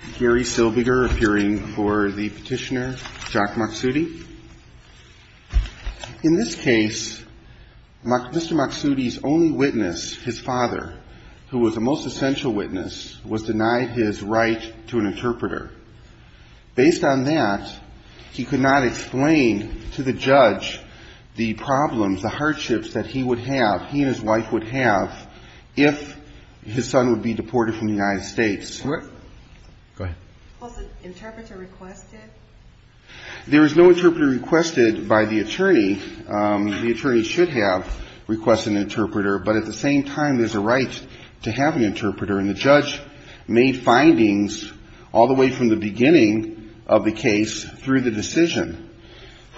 appearing for the petitioner Jack Maksoudi. In this case, Mr. Maksoudi's only witness, his father, who was the most essential witness, was denied his right to an interpreter. Based on that, he could not explain to the judge the problems, the hardships that he would have, he and his wife would have, if his son would be deported from the United States. Was an interpreter requested? There was no interpreter requested by the attorney. The attorney should have requested an interpreter, but at the same time, there's a right to have an interpreter, and the judge made findings all the way from the beginning of the case through the decision.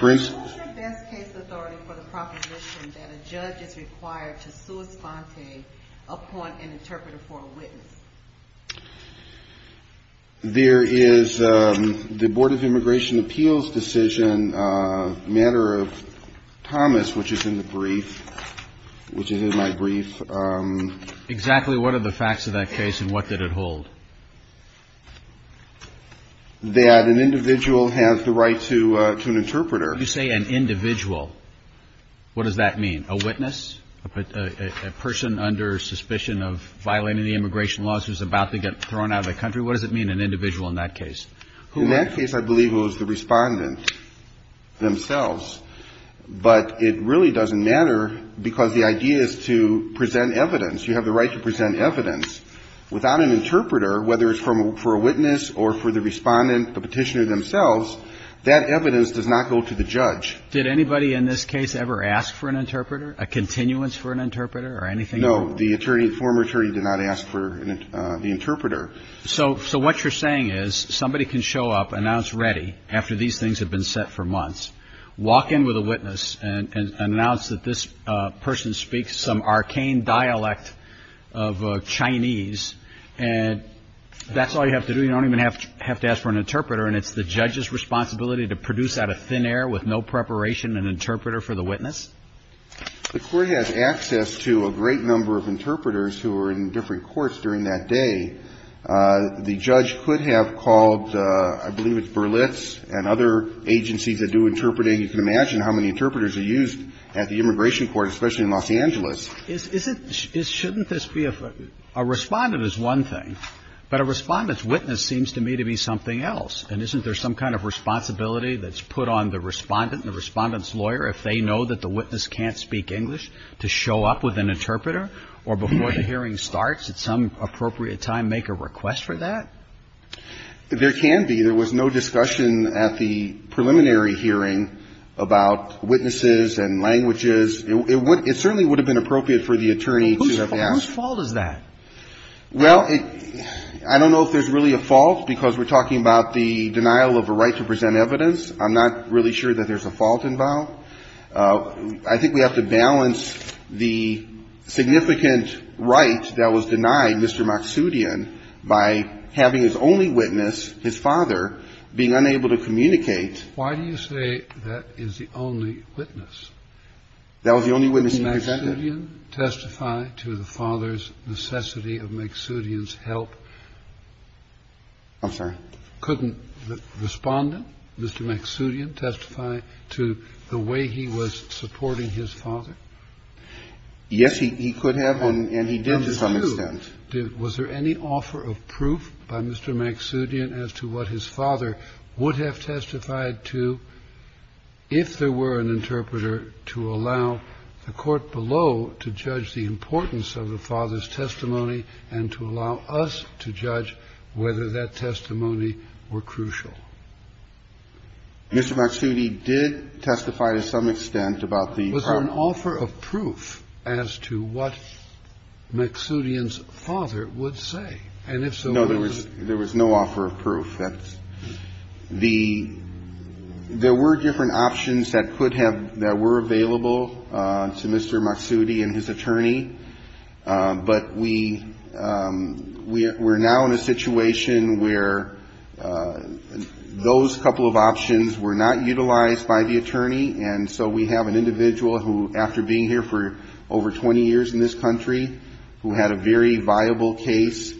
What's the best case authority for the proposition that a judge is required to sua sponte upon an interpreter for a witness? There is the Board of Immigration Appeals decision, a matter of Thomas, which is in the brief, which is in my brief. Exactly what are the facts of that case, and what did it hold? That an individual has the right to an interpreter. You say an individual. What does that mean? A witness? A person under suspicion of violating the immigration laws who's about to get thrown out of the country? What does it mean, an individual in that case? In that case, I believe it was the respondent themselves, but it really doesn't matter because the idea is to present evidence. You have the right to present evidence. Without an interpreter, whether it's for a witness or for the respondent, the petitioner themselves, that evidence does not go to the judge. Did anybody in this case ever ask for an interpreter, a continuance for an interpreter or anything? No. The attorney, the former attorney did not ask for the interpreter. So what you're saying is somebody can show up, announce ready after these things have been set for months, walk in with a witness and announce that this person speaks some arcane dialect of Chinese, and that's all you have to do? You don't even have to ask for an interpreter, and it's the judge's responsibility to produce out of thin air with no preparation an interpreter for the witness? The court has access to a great number of interpreters who are in different courts during that day. The judge could have called, I believe it's Berlitz and other agencies that do interpreting. You can imagine how many interpreters are used at the immigration court, especially in Los Angeles. Isn't, shouldn't this be a, a respondent is one thing, but a respondent's witness seems to me to be something else. And isn't there some kind of responsibility that's put on the respondent and the respondent's lawyer if they know that the witness can't speak English, to show up with an interpreter? Or before the hearing starts at some appropriate time make a request for that? There can be. There was no discussion at the preliminary hearing about witnesses and languages. It certainly would have been appropriate for the attorney to have asked. Whose fault is that? Well, I don't know if there's really a fault because we're talking about the denial of a right to present evidence. I'm not really sure that there's a fault involved. I think we have to balance the significant right that was denied Mr. Maksudian by having his only witness, his father, being unable to communicate. Why do you say that is the only witness? That was the only witness he presented. Could Maksudian testify to the father's necessity of Maksudian's help? I'm sorry? Couldn't the respondent, Mr. Maksudian, testify to the way he was supporting his father? Yes, he could have, and he did to some extent. Was there any offer of proof by Mr. Maksudian as to what his father would have testified to if there were an interpreter to allow the court below to judge the importance of the father's testimony and to allow us to judge whether that testimony were crucial? Mr. Maksudian did testify to some extent about the part of the court. Was there an offer of proof as to what Maksudian's father would say? And if so, what was it? No, there was no offer of proof. That's the – there were different options that could have – that were available to Mr. Maksudian and his attorney. But we're now in a situation where those couple of options were not utilized by the attorney. And so we have an individual who, after being here for over 20 years in this country, who had a very viable case,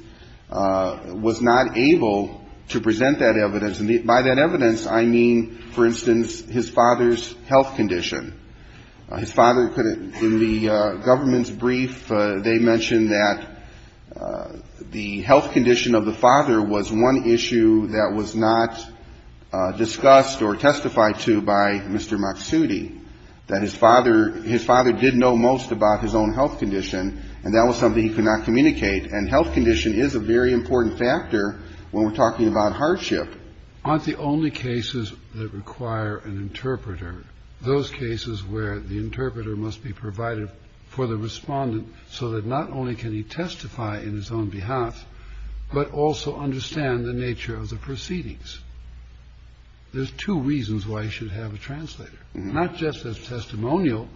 was not able to present that evidence. And by that evidence, I mean, for instance, his father's health condition. His father couldn't – in the government's brief, they mentioned that the health condition of the father was one issue that was not discussed or testified to by Mr. Maksudian, that his father – his father did know most about his own health condition, and that was something he could not communicate. And health condition is a very important factor when we're talking about hardship. Aren't the only cases that require an interpreter those cases where the interpreter must be provided for the respondent so that not only can he testify in his own behalf, but also understand the nature of the proceedings? There's two reasons why he should have a translator, not just as testimonial,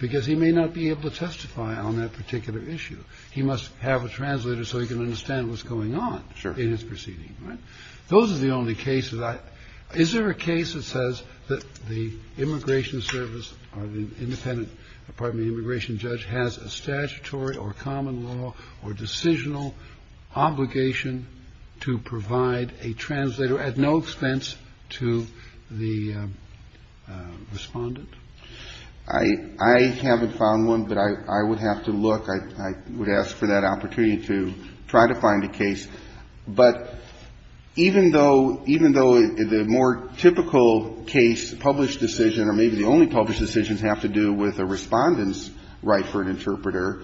because he may not be able to testify on that particular issue. He must have a translator so he can understand what's going on in his proceeding, right? Those are the only cases I – is there a case that says that the immigration service or the independent – pardon me, the immigration judge has a statutory or common law or decisional obligation to provide a translator at no expense to the respondent? I haven't found one, but I would have to look. I would ask for that opportunity to try to find a case. But even though – even though the more typical case, published decision, or maybe the only published decisions have to do with a respondent's right for an interpreter,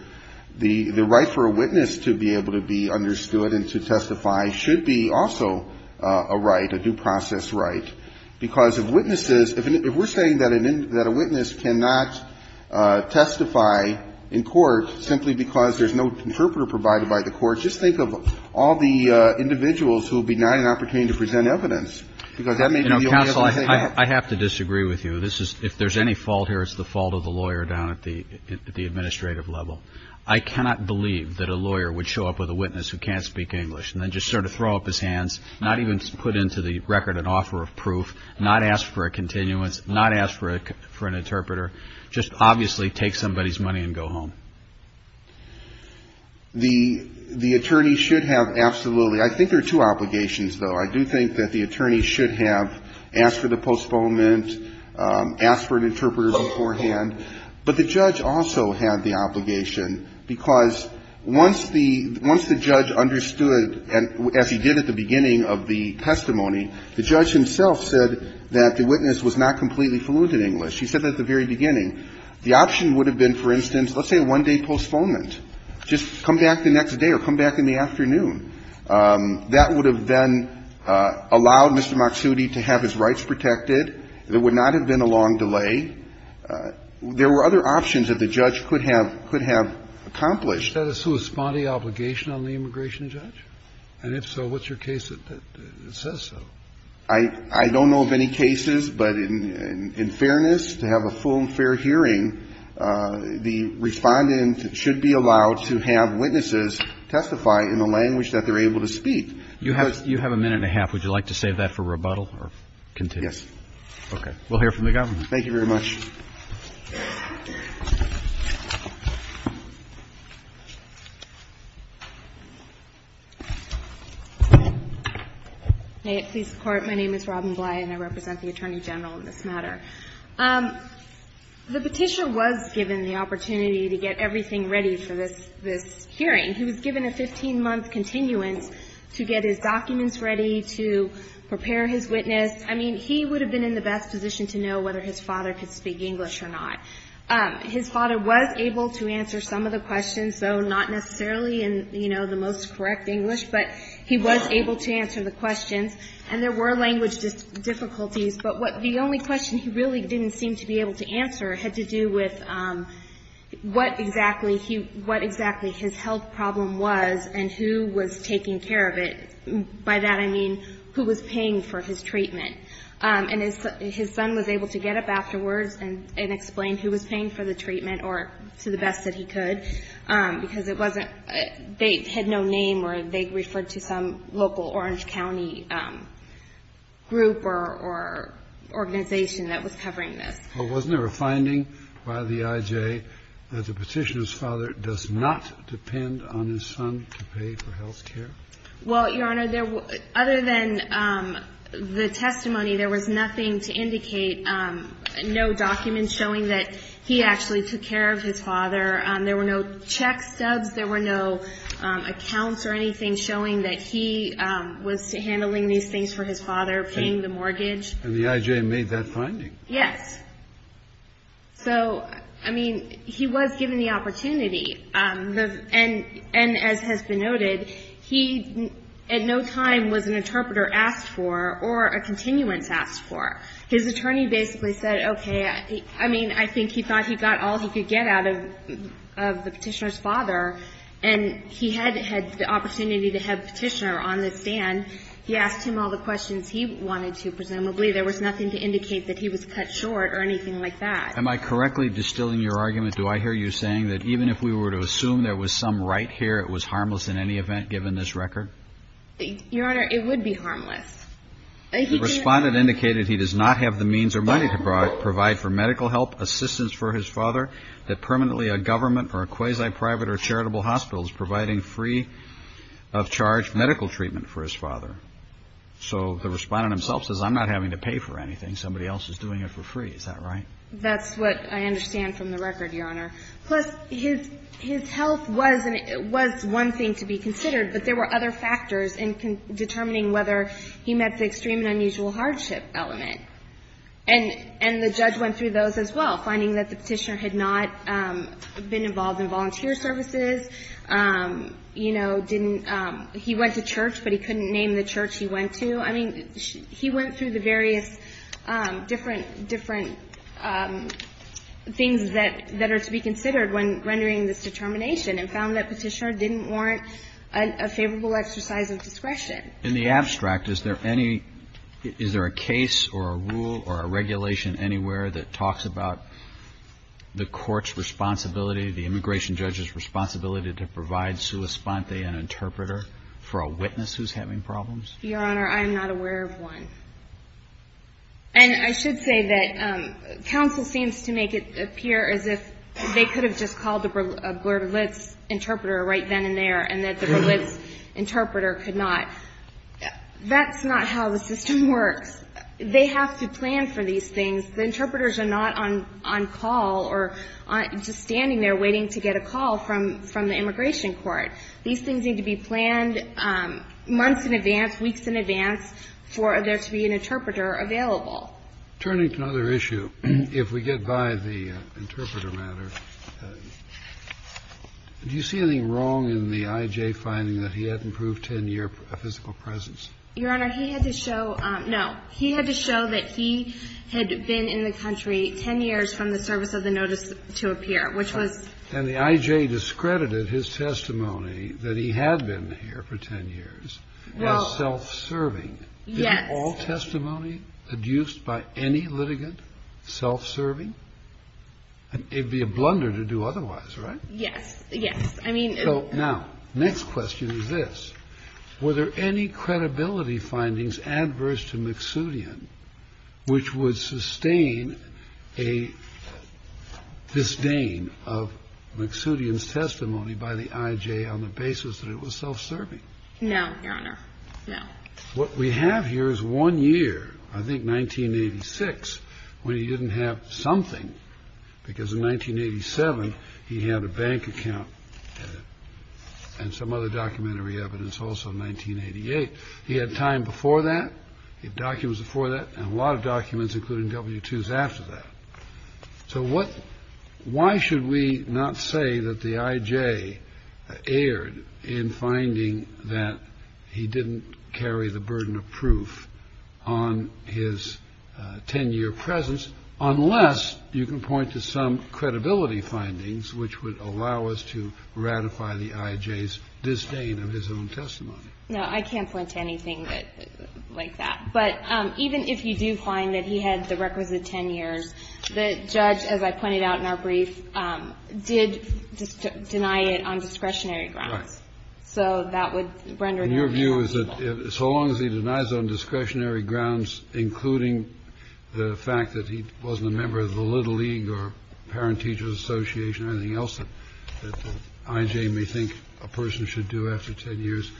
the right for a witness to be able to be understood and to testify should be also a right, a due process right. Because if witnesses – if we're saying that a witness cannot testify in court simply because they have a right to do so, that's not the case. If a witness cannot testify in court simply because there's no interpreter provided by the court, just think of all the individuals who would be denied an opportunity to present evidence, because that may be the only evidence they have. You know, counsel, I have to disagree with you. This is – if there's any fault here, it's the fault of the lawyer down at the administrative level. I cannot believe that a lawyer would show up with a witness who can't speak English and then just sort of throw up his hands, not even put into the record an offer of proof, not ask for a continuance, not ask for an interpreter. Just obviously take somebody's money and go home. The attorney should have absolutely – I think there are two obligations, though. I do think that the attorney should have asked for the postponement, asked for an interpreter beforehand. But the judge also had the obligation, because once the judge understood, as he did at the beginning of the testimony, the judge himself said that the witness was not completely fluent in English. He said that at the very beginning. The option would have been, for instance, let's say a one-day postponement. Just come back the next day or come back in the afternoon. That would have then allowed Mr. Maksudi to have his rights protected. There would not have been a long delay. There were other options that the judge could have – could have accomplished. Kennedy. Is that a corresponding obligation on the immigration judge? And if so, what's your case that says so? I don't know of any cases, but in fairness, to have a full and fair hearing, the respondent should be allowed to have witnesses testify in the language that they're able to speak. You have a minute and a half. Would you like to save that for rebuttal or continue? Yes. Okay. We'll hear from the government. Thank you very much. May it please the Court. My name is Robin Bly, and I represent the Attorney General in this matter. The Petitioner was given the opportunity to get everything ready for this hearing. He was given a 15-month continuance to get his documents ready, to prepare his witness. I mean, he would have been in the best position to know whether his father could speak English or not. His father was able to answer some of the questions, though not necessarily in, you know, the most correct English. But he was able to answer the questions. And there were language difficulties. But the only question he really didn't seem to be able to answer had to do with what exactly his health problem was and who was taking care of it. And by that I mean who was paying for his treatment. And his son was able to get up afterwards and explain who was paying for the treatment, or to the best that he could, because it wasn't they had no name or they referred to some local Orange County group or organization that was covering this. Well, wasn't there a finding by the IJ that the Petitioner's father does not depend on his son to pay for health care? Well, Your Honor, other than the testimony, there was nothing to indicate, no documents showing that he actually took care of his father. There were no check stubs. There were no accounts or anything showing that he was handling these things for his father, paying the mortgage. And the IJ made that finding? Yes. So, I mean, he was given the opportunity. And as has been noted, he at no time was an interpreter asked for or a continuance asked for. His attorney basically said, okay, I mean, I think he thought he got all he could get out of the Petitioner's father. And he had had the opportunity to have Petitioner on the stand. He asked him all the questions he wanted to, presumably. There was nothing to indicate that he was cut short or anything like that. Am I correctly distilling your argument? Do I hear you saying that even if we were to assume there was some right here, it was harmless in any event, given this record? Your Honor, it would be harmless. The respondent indicated he does not have the means or money to provide for medical help, assistance for his father, that permanently a government or a quasi-private or charitable hospital is providing free of charge medical treatment for his father. So the respondent himself says, I'm not having to pay for anything. Somebody else is doing it for free. Is that right? That's what I understand from the record, Your Honor. Plus, his health was one thing to be considered. But there were other factors in determining whether he met the extreme and unusual hardship element. And the judge went through those as well, finding that the Petitioner had not been involved in volunteer services, you know, didn't he went to church, but he couldn't name the church he went to. I mean, he went through the various different things that are to be considered when rendering this determination and found that Petitioner didn't warrant a favorable exercise of discretion. In the abstract, is there any – is there a case or a rule or a regulation anywhere that talks about the Court's responsibility, the immigration judge's responsibility to provide sua sponte, an interpreter, for a witness who's having problems? Your Honor, I am not aware of one. And I should say that counsel seems to make it appear as if they could have just called the Berlitz interpreter right then and there and that the Berlitz interpreter could not. That's not how the system works. They have to plan for these things. The interpreters are not on call or just standing there waiting to get a call from the immigration court. These things need to be planned months in advance. Weeks in advance for there to be an interpreter available. Turning to another issue, if we get by the interpreter matter, do you see anything wrong in the I.J. finding that he hadn't proved 10-year physical presence? Your Honor, he had to show – no. He had to show that he had been in the country 10 years from the service of the notice to appear, which was – And the I.J. discredited his testimony that he had been here for 10 years. Well – As self-serving. Yes. Is all testimony adduced by any litigant self-serving? It would be a blunder to do otherwise, right? Yes. Yes. I mean – So now, next question is this. Were there any credibility findings adverse to McSoodian which would sustain a disdain of McSoodian's testimony by the I.J. on the basis that it was self-serving? No, Your Honor. No. What we have here is one year, I think 1986, when he didn't have something, because in 1987, he had a bank account, and some other documentary evidence also in 1988. He had time before that. He had documents before that, and a lot of documents, including W-2s after that. So what – why should we not say that the I.J. erred in finding that he didn't carry the burden of proof on his 10-year presence, unless you can point to some credibility findings which would allow us to ratify the I.J.'s disdain of his own testimony? No, I can't point to anything like that. But even if you do find that he had the requisite 10 years, the judge, as I pointed out in our brief, did deny it on discretionary grounds. Right. So that would render him ineligible. And your view is that so long as he denies on discretionary grounds, including the fact that he wasn't a member of the Little League or Parent-Teachers Association or anything else that the I.J. may think a person should do after 10 years,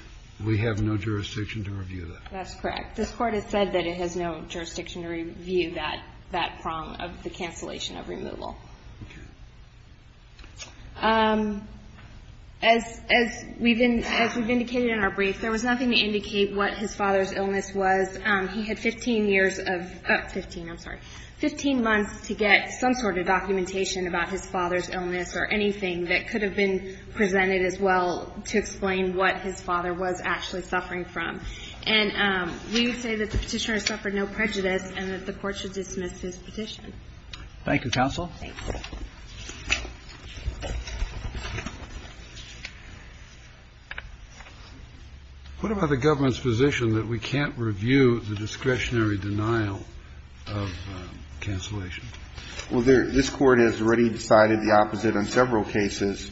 we have no jurisdiction to review that? That's correct. This Court has said that it has no jurisdiction to review that – that prong of the cancellation of removal. Okay. As we've been – as we've indicated in our brief, there was nothing to indicate what his father's illness was. He had 15 years of – 15, I'm sorry. 15 months to get some sort of documentation about his father's illness or anything that could have been presented as well to explain what his father was actually suffering from. And we would say that the Petitioner suffered no prejudice and that the Court should dismiss his petition. Thank you, counsel. Thanks. What about the government's position that we can't review the discretionary denial of cancellation? Well, this Court has already decided the opposite on several cases.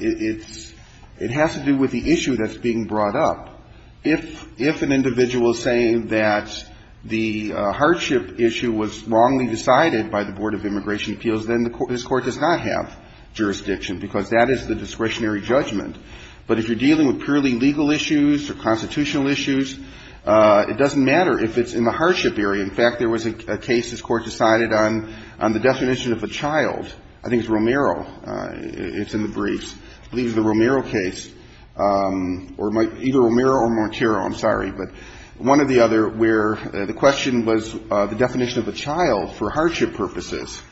It's – it has to do with the issue that's being brought up. If an individual is saying that the hardship issue was wrongly decided by the Board of Immigration Appeals, then this Court does not have jurisdiction, because that is the discretionary judgment. But if you're dealing with purely legal issues or constitutional issues, it doesn't matter if it's in the hardship area. In fact, there was a case this Court decided on, on the definition of a child. I think it's Romero. It's in the briefs. I believe it's the Romero case, or either Romero or Monteiro. I'm sorry. But one or the other where the question was the definition of a child for hardship purposes.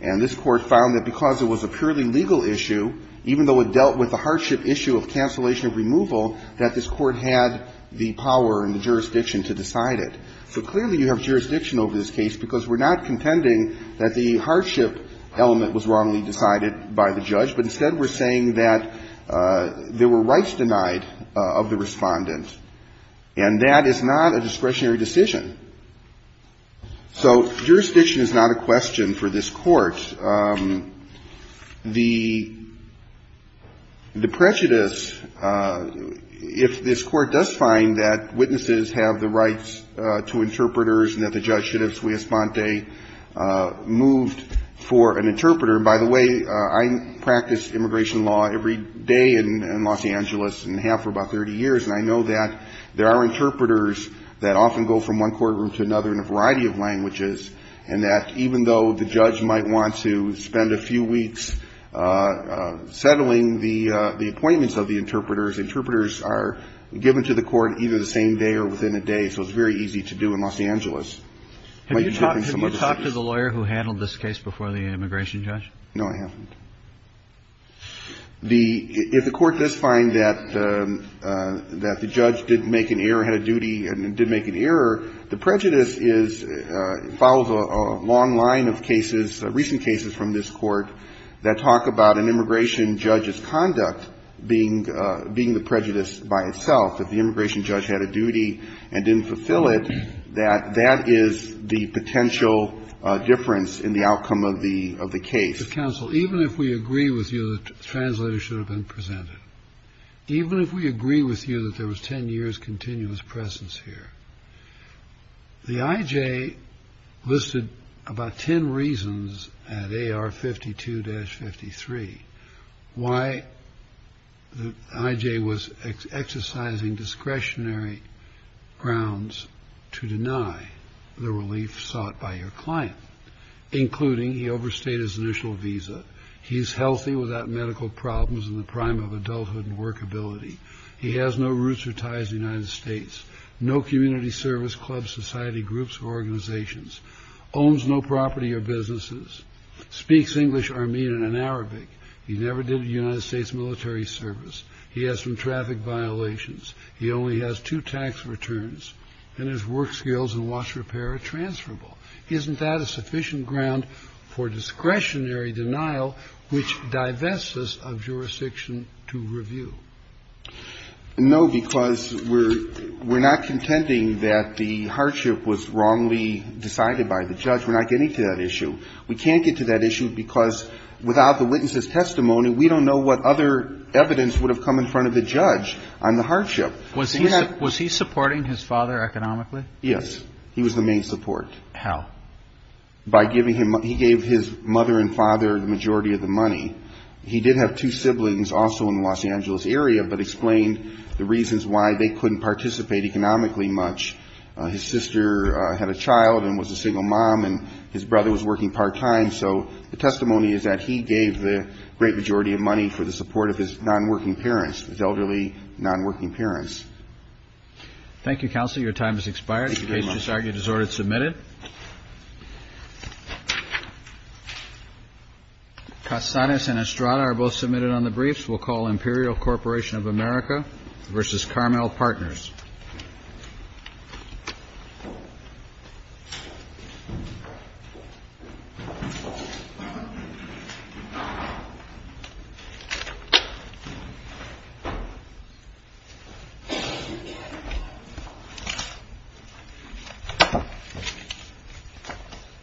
And this Court found that because it was a purely legal issue, even though it dealt with the hardship issue of cancellation of removal, that this Court had the power and the jurisdiction to decide it. So clearly you have jurisdiction over this case, because we're not contending that the hardship element was wrongly decided by the judge, but instead we're saying that there were rights denied of the Respondent. And that is not a discretionary decision. So jurisdiction is not a question for this Court. The prejudice, if this Court does find that witnesses have the right to decide to interpreters and that the judge should have sui espante moved for an interpreter. By the way, I practice immigration law every day in Los Angeles and have for about 30 years, and I know that there are interpreters that often go from one courtroom to another in a variety of languages, and that even though the judge might want to spend a few weeks settling the appointments of the interpreters, interpreters are given to the Court either the same day or within a day, so it's very easy to do in Los Angeles. Have you talked to the lawyer who handled this case before the immigration judge? No, I haven't. If the Court does find that the judge did make an error, had a duty and did make an error, the prejudice is, follows a long line of cases, recent cases from this Court that talk about an immigration judge's conduct being the prejudice by itself. If the immigration judge had a duty and didn't fulfill it, that is the potential difference in the outcome of the case. But, counsel, even if we agree with you that translators should have been presented, even if we agree with you that there was 10 years' continuous presence here, the I.J. listed about 10 reasons at AR 52-53 why the I.J. was exercising discretionary grounds to deny the relief sought by your client, including he overstayed his initial visa, he is healthy without medical problems in the prime of adulthood and workability, he has no roots or ties to the United States, no community service clubs, society groups or organizations, owns no property or businesses, speaks English, Armenian and Arabic, he never did a United States military service, he has some traffic violations, he only has two tax returns, and his work skills and watch repair are transferable. Isn't that a sufficient ground for discretionary denial which divests us of jurisdiction to review? No, because we're not contending that the hardship was wrongly decided by the judge. We're not getting to that issue. We can't get to that issue because without the witness's testimony, we don't know what other evidence would have come in front of the judge on the hardship. Was he supporting his father economically? Yes. He was the main support. How? By giving him his mother and father the majority of the money. He did have two siblings also in the Los Angeles area, but explained the reasons why they couldn't participate economically much. His sister had a child and was a single mom, and his brother was working part-time, so the testimony is that he gave the great majority of money for the support of his non-working parents, his elderly non-working parents. Thank you, counsel. The case is argued as ordered and submitted. Casares and Estrada are both submitted on the briefs. We'll call Imperial Corporation of America v. Carmel Partners. Thank you.